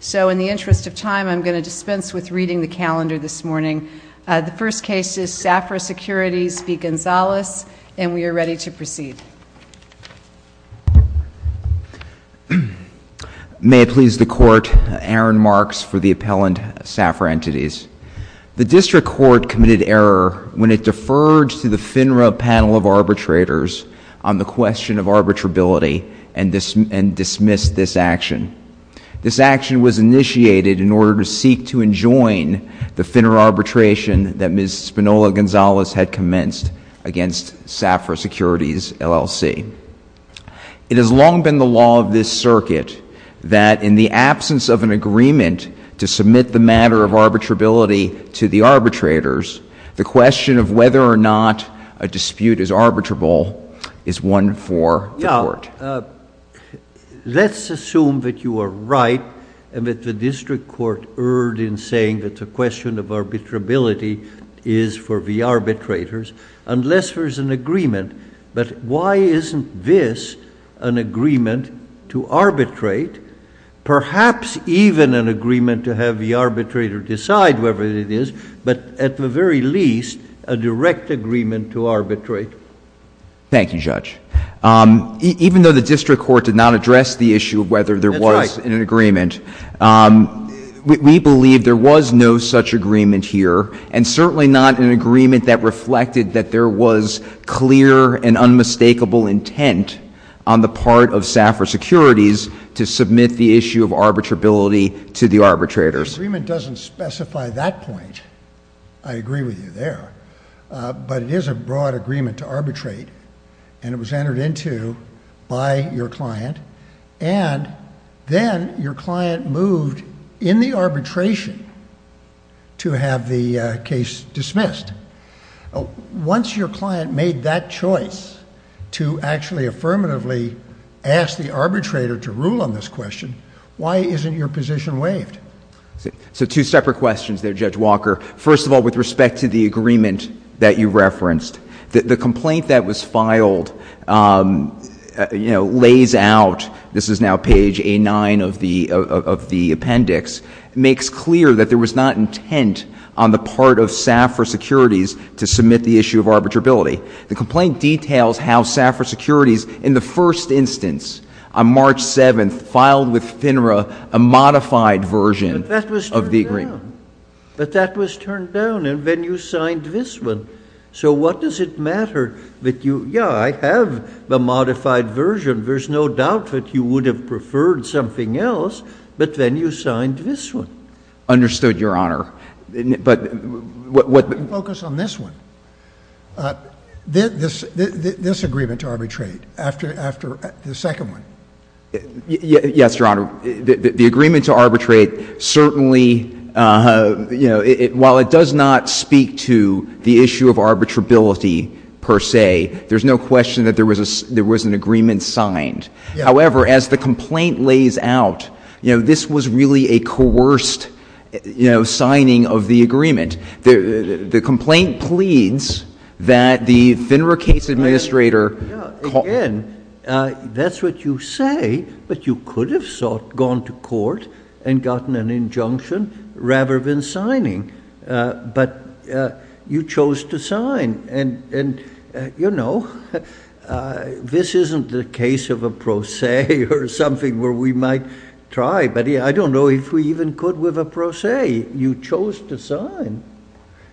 So in the interest of time, I'm going to dispense with reading the calendar this morning. The first case is SAFRA Securities v. Gonzalez, and we are ready to proceed. May it please the court, Aaron Marks for the appellant, SAFRA Entities. The district court committed error when it deferred to the FINRA panel of arbitrators on the question of arbitrability and dismissed this action. This action was initiated in order to seek to enjoin the FINRA arbitration that Ms. Spinola-Gonzalez had commenced against SAFRA Securities LLC. It has long been the law of this circuit that in the absence of an agreement to submit the matter of arbitrability to the arbitrators, the question of whether or not a dispute is arbitrable is one for the court. Let's assume that you are right and that the district court erred in saying that the question of arbitrability is for the arbitrators, unless there's an agreement. But why isn't this an agreement to arbitrate, perhaps even an agreement to have the arbitrator decide whether it is, but at the very least, a direct agreement to arbitrate? Thank you, Judge. Even though the district court did not address the issue of whether there was an agreement, we believe there was no such agreement here and certainly not an agreement that reflected that there was clear and unmistakable intent on the part of SAFRA Securities to submit the issue of arbitrability to the arbitrators. The agreement doesn't specify that point. I agree with you there. But it is a broad agreement to arbitrate and it was entered into by your client and then your client moved in the arbitration to have the case dismissed. Once your client made that choice to actually affirmatively ask the arbitrator to rule on this question, why isn't your position waived? So two separate questions there, Judge Walker. First of all, with respect to the agreement that you referenced, the complaint that was filed, you know, lays out, this is now page A9 of the appendix, makes clear that there was not intent on the part of SAFRA Securities to submit the issue of arbitrability. The complaint details how SAFRA Securities in the first instance, on March 7th, filed with FINRA a modified version of the agreement. But that was turned down and then you signed this one. So what does it matter that you, yeah, I have the modified version. There's no doubt that you would have preferred something else, but then you signed this one. Understood, Your Honor. But what... Let me focus on this one. This agreement to arbitrate, after the second one. Yes, Your Honor. The agreement to arbitrate certainly, you know, while it does not speak to the issue of arbitrability per se, there's no question that there was an agreement signed. However, as the complaint lays out, you know, this was really a coerced, you know, signing of the agreement. The complaint pleads that the FINRA case administrator... That's what you say, but you could have sought, gone to court and gotten an injunction rather than signing. But you chose to sign. And, you know, this isn't the case of a pro se or something where we might try, but I don't know if we even could with a pro se. You chose to sign.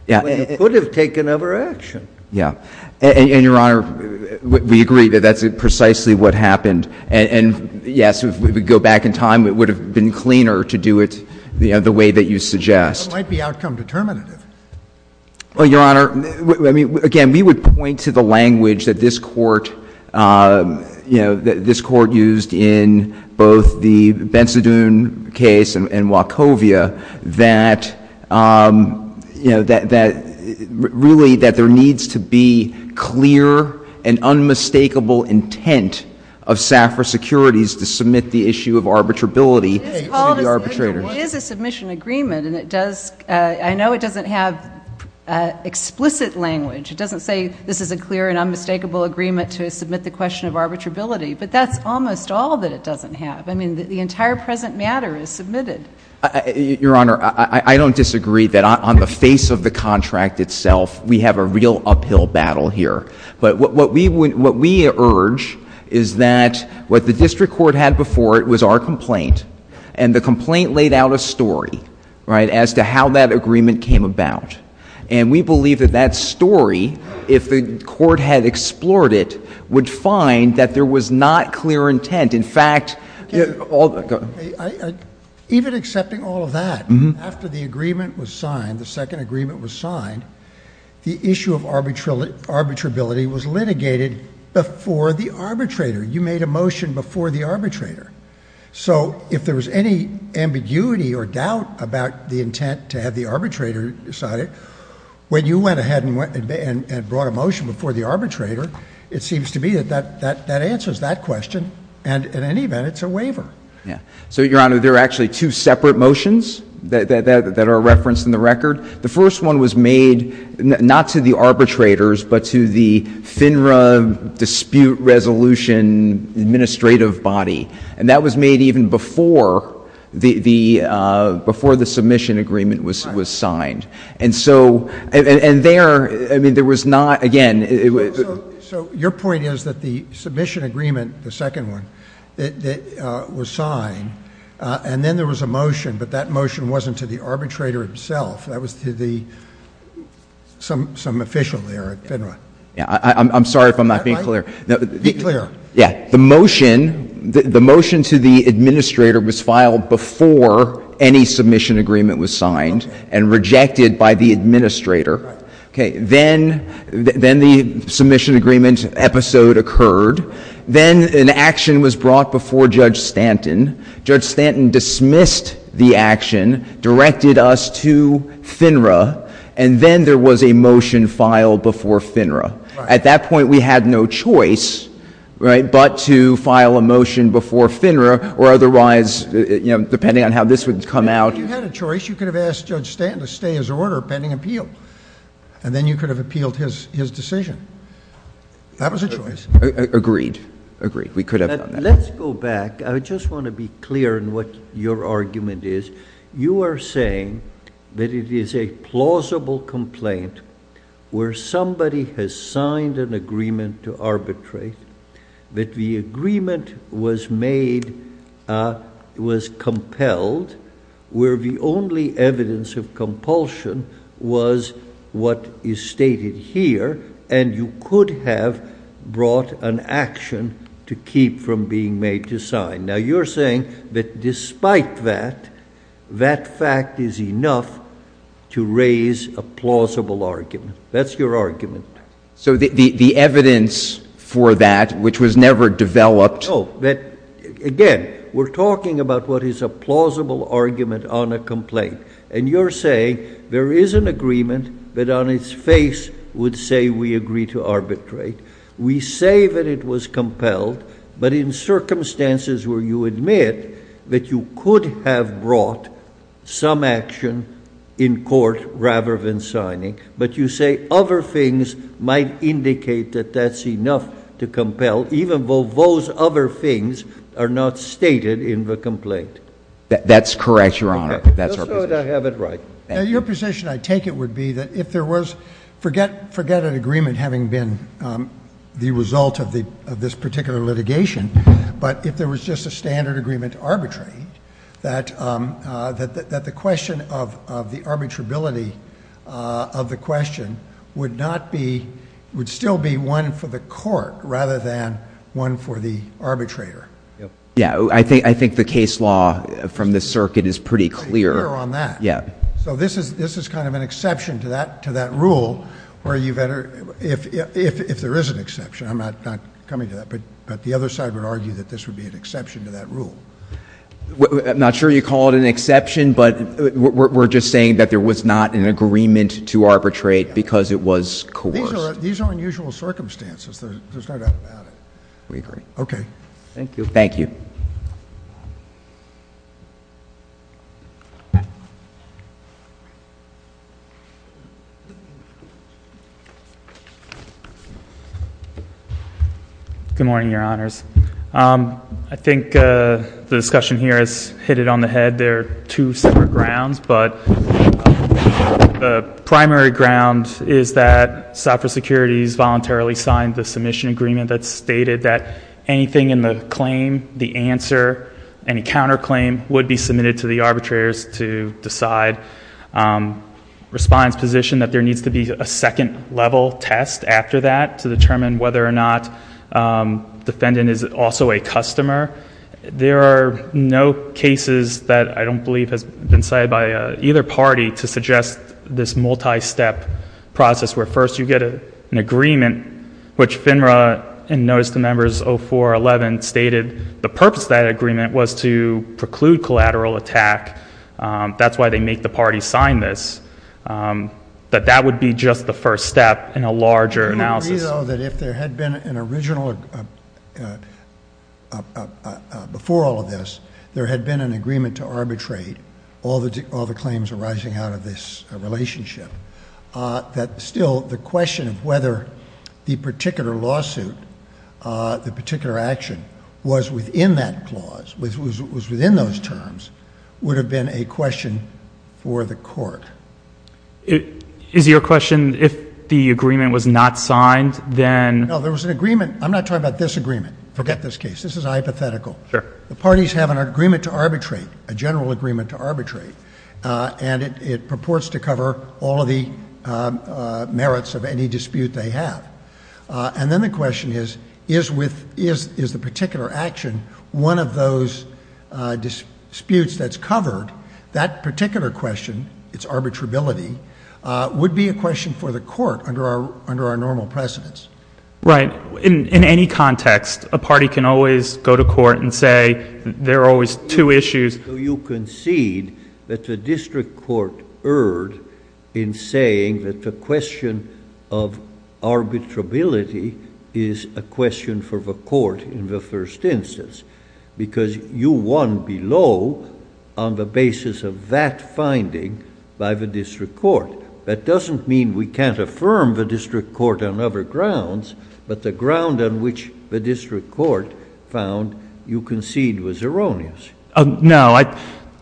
Yeah. But you could have taken other action. Yeah. And, Your Honor, we agree that that's precisely what happened. And, yes, if we go back in time, it would have been cleaner to do it, you know, the way that you suggest. It might be outcome determinative. Well, Your Honor, I mean, again, we would point to the language that this Court, you know, that this Court used in both the Bensadun case and Wachovia that, you know, that really that there needs to be clear and unmistakable intent of SAFRA securities to submit the issue of arbitrability to the arbitrators. It is a submission agreement, and it does, I know it doesn't have explicit language. It doesn't say this is a clear and unmistakable agreement to submit the question of arbitrability. But that's almost all that it doesn't have. I mean, the entire present matter is submitted. Your Honor, I don't disagree that on the face of the contract itself, we have a real uphill battle here. But what we would — what we urge is that what the district court had before it was our complaint, and the complaint laid out a story, right, as to how that agreement came about. And we believe that that story, if the court had explored it, would find that there was not clear intent. In fact — Even accepting all of that, after the agreement was signed, the second agreement was signed, the issue of arbitrability was litigated before the arbitrator. You made a motion before the arbitrator. So if there was any ambiguity or doubt about the intent to have the arbitrator decide it, when you went ahead and brought a motion before the arbitrator, it seems to me that that answers that question. And in any event, it's a waiver. Yeah. So, Your Honor, there are actually two separate motions that are referenced in the record. The first one was made not to the arbitrators, but to the FINRA dispute resolution administrative body. And that was made even before the — before the submission agreement was signed. So your point is that the submission agreement, the second one, that was signed, and then there was a motion, but that motion wasn't to the arbitrator himself. That was to the — some official there at FINRA. Yeah. I'm sorry if I'm not being clear. Be clear. Yeah. The motion — the motion to the administrator was filed before any submission agreement was signed and rejected by the administrator. Okay. Then — then the submission agreement episode occurred. Then an action was brought before Judge Stanton. Judge Stanton dismissed the action, directed us to FINRA, and then there was a motion filed before FINRA. At that point, we had no choice, right, but to file a motion before FINRA or otherwise, you know, depending on how this would come out — If you had a choice, you could have asked Judge Stanton to stay as an order pending appeal. Then you could have appealed his decision. That was a choice. Agreed. Agreed. We could have done that. Let's go back. I just want to be clear in what your argument is. You are saying that it is a plausible complaint where somebody has signed an agreement to arbitrate, that the agreement was made — was compelled, where the only evidence of compulsion was what is stated here, and you could have brought an action to keep from being made to sign. Now, you're saying that despite that, that fact is enough to raise a plausible argument. That's your argument. So the evidence for that, which was never developed — No, that — again, we're talking about what is a plausible argument on a complaint, and you're saying there is an agreement that on its face would say we agree to arbitrate. We say that it was compelled, but in circumstances where you admit that you could have brought some action in court rather than signing, but you say other things might indicate that that's enough to compel, even though those other things are not stated in the complaint. That's correct, Your Honor. That's our position. Just so that I have it right. Your position, I take it, would be that if there was — forget an agreement having been the result of this particular litigation, but if there was just a standard agreement to arbitrate, that the question of the arbitrability of the question would not be — would still be one for the court rather than one for the arbitrator. Yeah, I think the case law from the circuit is pretty clear on that. Yeah. So this is kind of an exception to that rule, where you better — if there is an exception. I'm not coming to that, but the other side would argue that this would be an exception to that rule. I'm not sure you call it an exception, but we're just saying that there was not an agreement to arbitrate because it was coerced. These are unusual circumstances. There's no doubt about it. We agree. Okay. Thank you. Thank you. Good morning, Your Honors. I think the discussion here has hit it on the head. There are two separate grounds, but the primary ground is that software securities voluntarily signed the submission agreement that stated that anything in the claim, the answer, any counterclaim would be submitted to the arbitrators to decide respondent's position that there needs to be a second level test after that to determine whether or not defendant is also a customer. There are no cases that I don't believe has been cited by either party to suggest this multi-step process where first you get an agreement, which FINRA in notice to members 04-11 stated the purpose of that agreement was to preclude collateral attack. That's why they make the party sign this, that that would be just the first step in a larger analysis. I can agree, though, that if there had been an original, before all of this, there had been an agreement to arbitrate all the claims arising out of this relationship, that still the question of whether the particular lawsuit, the particular action was within that clause, was within those terms, would have been a question for the court. Is your question, if the agreement was not signed, then? No, there was an agreement. I'm not talking about this agreement. Forget this case. This is hypothetical. Sure. Parties have an agreement to arbitrate, a general agreement to arbitrate, and it purports to cover all of the merits of any dispute they have. And then the question is, is the particular action one of those disputes that's covered, that particular question, its arbitrability, would be a question for the court under our normal precedence. Right. In any context, a party can always go to court and say there are always two issues. You concede that the district court erred in saying that the question of arbitrability is a question for the court in the first instance, because you won below on the basis of that finding by the district court. That doesn't mean we can't affirm the district court on other grounds, but the ground on which the district court found you concede was erroneous. No.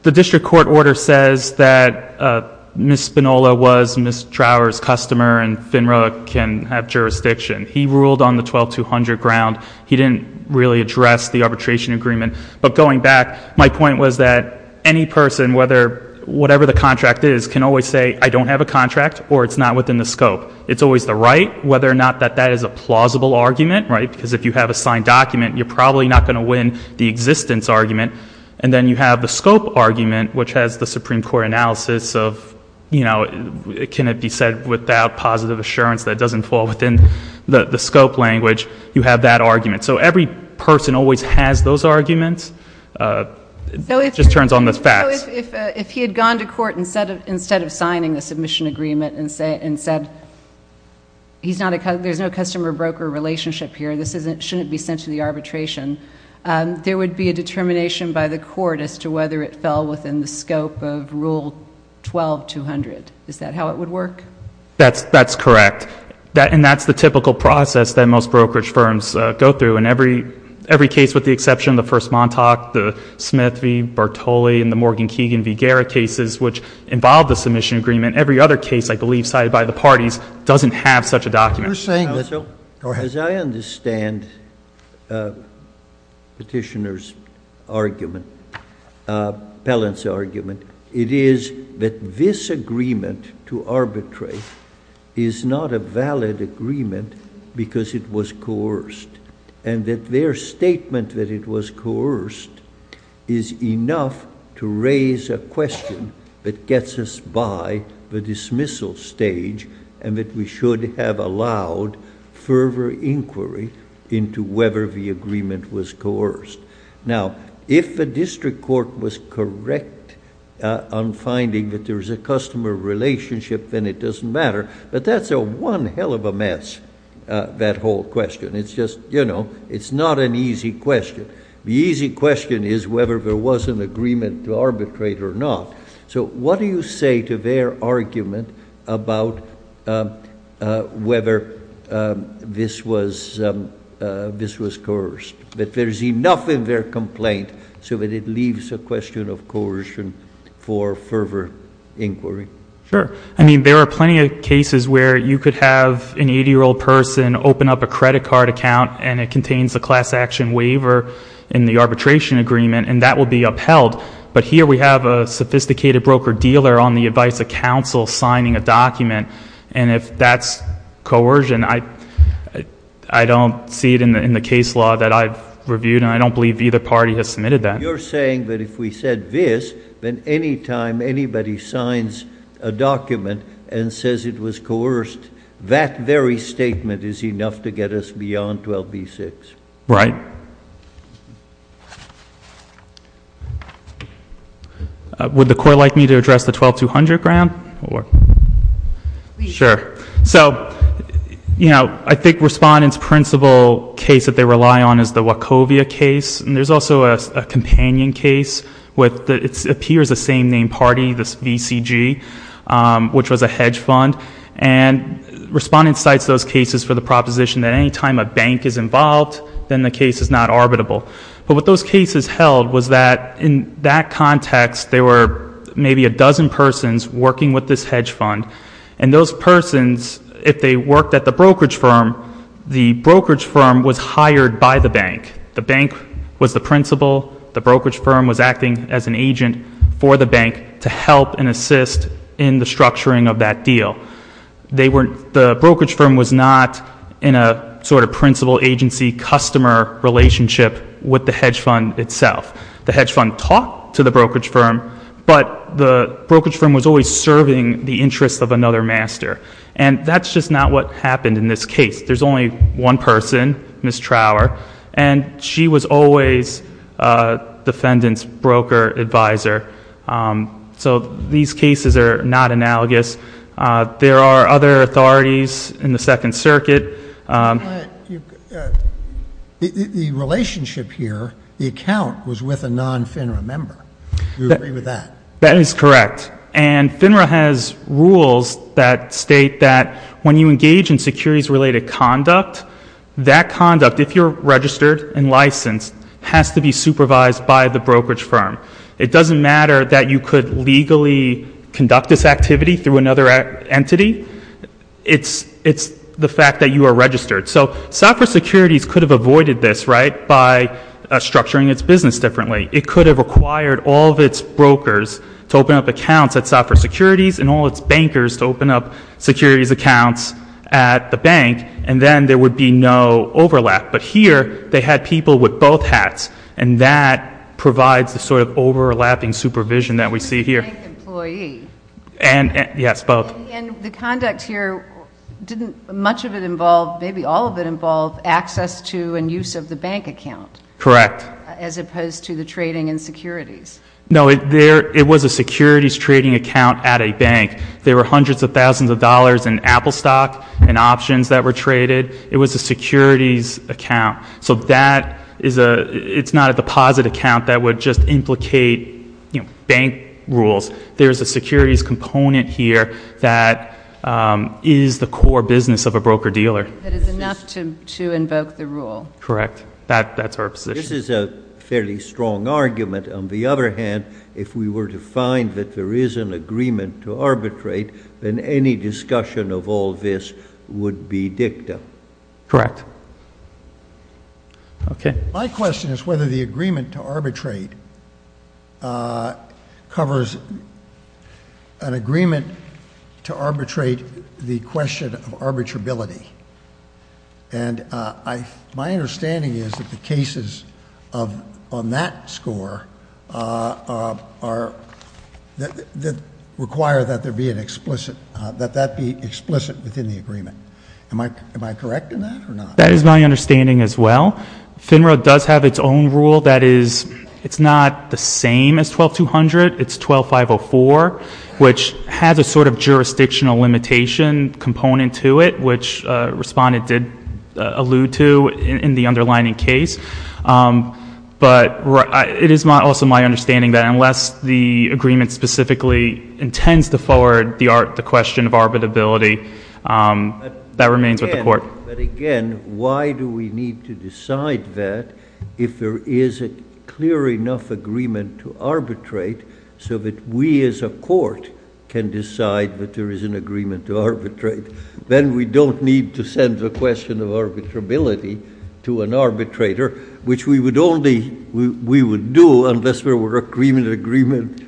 The district court order says that Ms. Spinola was Ms. Trauer's customer and FINRA can have jurisdiction. He ruled on the 12-200 ground. He didn't really address the arbitration agreement. But going back, my point was that any person, whatever the contract is, can always say, I don't have a contract, or it's not within the scope. It's always the right, whether or not that that is a plausible argument, right, because if you have a signed document, you're probably not going to win the existence argument. And then you have the scope argument, which has the Supreme Court analysis of, you know, can it be said without positive assurance that it doesn't fall within the scope language. You have that argument. So every person always has those arguments. It just turns on the facts. If he had gone to court instead of signing the submission agreement and said, there's no customer broker relationship here. This shouldn't be sent to the arbitration. There would be a determination by the court as to whether it fell within the scope of Rule 12-200. Is that how it would work? That's correct. And that's the typical process that most brokerage firms go through. And every case with the exception of the first Montauk, the Smith v. Bartoli, and the Morgan-Keegan v. Guerra cases, which involve the submission agreement, every other case I believe cited by the parties doesn't have such a document. You're saying that, as I understand Petitioner's argument, Pellant's argument, it is that this agreement to arbitrate is not a valid agreement because it was coerced and that their statement that it was coerced is enough to raise a question that gets us by the dismissal stage and that we should have allowed further inquiry into whether the agreement was coerced. Now, if the district court was correct on finding that there's a customer relationship, then it doesn't matter. But that's one hell of a mess, that whole question. It's just, you know, it's not an easy question. The easy question is whether there was an agreement to arbitrate or not. So what do you say to their argument about whether this was coerced, that there's enough in their complaint so that it leaves a question of coercion for further inquiry? Sure. I mean, there are plenty of cases where you could have an 80-year-old person open up a credit card account and it contains a class action waiver in the arbitration agreement and that would be upheld. But here we have a sophisticated broker-dealer on the advice of counsel signing a document. And if that's coercion, I don't see it in the case law that I've reviewed and I don't believe either party has submitted that. You're saying that if we said this, then any time anybody signs a document and says it was coerced, that very statement is enough to get us beyond 12b-6? Right. Would the Court like me to address the 12-200 ground? Sure. So, you know, I think Respondent's principal case that they rely on is the Wachovia case. And there's also a companion case that appears a same-name party, this VCG, which was a hedge fund. And Respondent cites those cases for the proposition that any time a bank is involved, then the case is not arbitrable. But what those cases held was that in that context, there were maybe a dozen persons working with this hedge fund. And those persons, if they worked at the brokerage firm, the brokerage firm was hired by the bank. The bank was the principal. The brokerage firm was acting as an agent for the bank to help and assist in the structuring of that deal. The brokerage firm was not in a sort of principal-agency-customer relationship with the hedge fund itself. The hedge fund talked to the brokerage firm, but the brokerage firm was always serving the interests of another master. And that's just not what happened in this case. There's only one person, Ms. Trower, and she was always defendant's broker advisor. So these cases are not analogous. There are other authorities in the Second Circuit. But the relationship here, the account was with a non-FINRA member. Do you agree with that? That is correct. And FINRA has rules that state that when you engage in securities-related conduct, that conduct, if you're registered and licensed, has to be supervised by the brokerage firm. It doesn't matter that you could legally conduct this activity through another entity. It's the fact that you are registered. So Software Securities could have avoided this, right, by structuring its business differently. It could have required all of its brokers to open up accounts at Software Securities and all its bankers to open up securities accounts at the bank, and then there would be no overlap. But here, they had people with both hats, and that provides the sort of overlapping supervision that we see here. And the bank employee. Yes, both. And the conduct here, didn't much of it involve, maybe all of it involve, access to and use of the bank account? Correct. As opposed to the trading and securities. No, it was a securities trading account at a bank. There were hundreds of thousands of dollars in Apple stock and options that were traded. It was a securities account. So that is a, it's not a deposit account that would just implicate, you know, bank rules. There's a securities component here that is the core business of a broker-dealer. That is enough to invoke the rule. Correct. That's our position. This is a fairly strong argument. On the other hand, if we were to find that there is an agreement to arbitrate, then any correct. Okay. My question is whether the agreement to arbitrate covers an agreement to arbitrate the question of arbitrability. And I, my understanding is that the cases of, on that score are, that require that there am I, am I correct in that or not? That is my understanding as well. FINRA does have its own rule that is, it's not the same as 12-200. It's 12-504, which has a sort of jurisdictional limitation component to it, which respondent did allude to in the underlying case. But it is also my understanding that unless the agreement specifically intends to forward the question of arbitrability, that remains with the court. But again, why do we need to decide that if there is a clear enough agreement to arbitrate so that we as a court can decide that there is an agreement to arbitrate? Then we don't need to send the question of arbitrability to an arbitrator, which we would only, we would do unless there were agreement, agreement.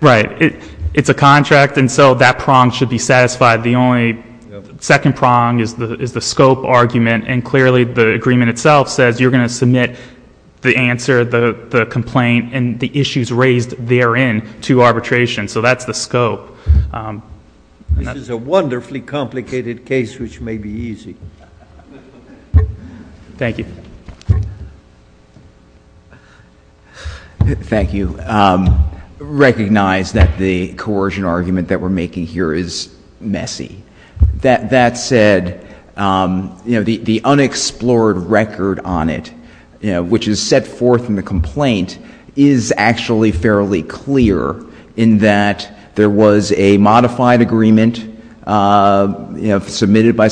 Right. It's a contract. And so that prong should be satisfied. The only second prong is the scope argument. And clearly the agreement itself says you're going to submit the answer, the complaint and the issues raised therein to arbitration. So that's the scope. This is a wonderfully complicated case, which may be easy. Thank you. Thank you. Recognize that the coercion argument that we're making here is messy. That said, you know, the unexplored record on it, you know, which is set forth in the complaint is actually fairly clear in that there was a modified agreement submitted by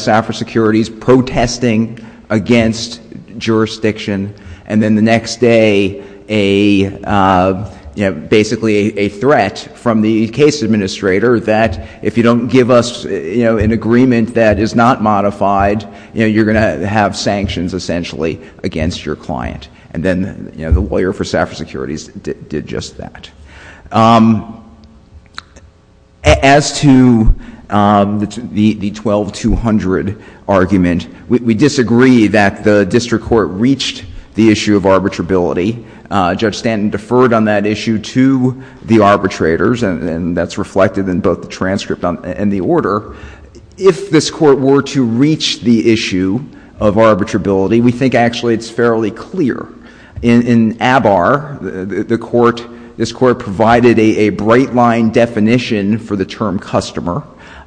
you know, basically a threat from the case administrator that if you don't give us, you know, an agreement that is not modified, you know, you're going to have sanctions essentially against your client. And then, you know, the lawyer for Safra Securities did just that. As to the 12-200 argument, we disagree that the district court reached the issue of arbitrability and deferred on that issue to the arbitrators. And that's reflected in both the transcript and the order. If this court were to reach the issue of arbitrability, we think actually it's fairly clear. In ABAR, the court, this court provided a bright line definition for the term customer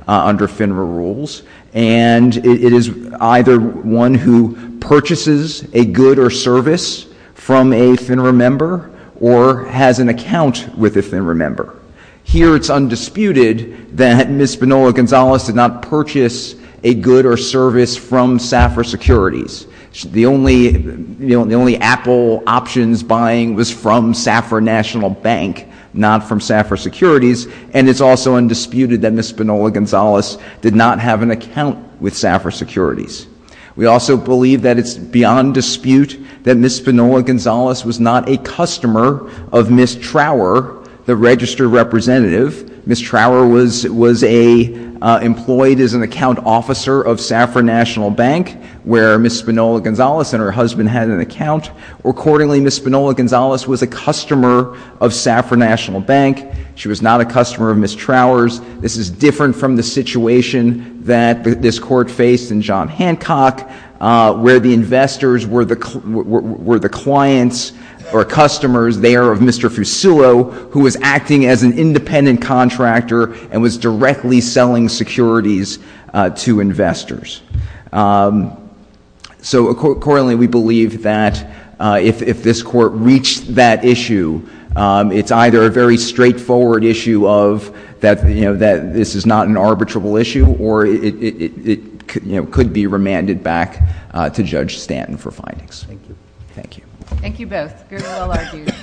under FINRA rules. And it is either one who purchases a good or service from a FINRA member or has an account with a FINRA member. Here it's undisputed that Ms. Spinola-Gonzalez did not purchase a good or service from Safra Securities. The only, you know, the only Apple options buying was from Safra National Bank, not from Safra Securities. And it's also undisputed that Ms. Spinola-Gonzalez did not have an account with Safra Securities. We also believe that it's beyond dispute that Ms. Spinola-Gonzalez was not a customer of Ms. Trower, the registered representative. Ms. Trower was employed as an account officer of Safra National Bank, where Ms. Spinola-Gonzalez and her husband had an account. Accordingly, Ms. Spinola-Gonzalez was a customer of Safra National Bank. She was not a customer of Ms. Trower's. This is different from the situation that this Court faced in John Hancock, where the investors were the clients or customers there of Mr. Fusillo, who was acting as an independent contractor and was directly selling securities to investors. So, accordingly, we believe that if this Court reached that issue, it's either a very straightforward issue of that this is not an arbitrable issue, or it could be remanded back to Judge Stanton for findings. Thank you. Thank you. Thank you both. You're all argued.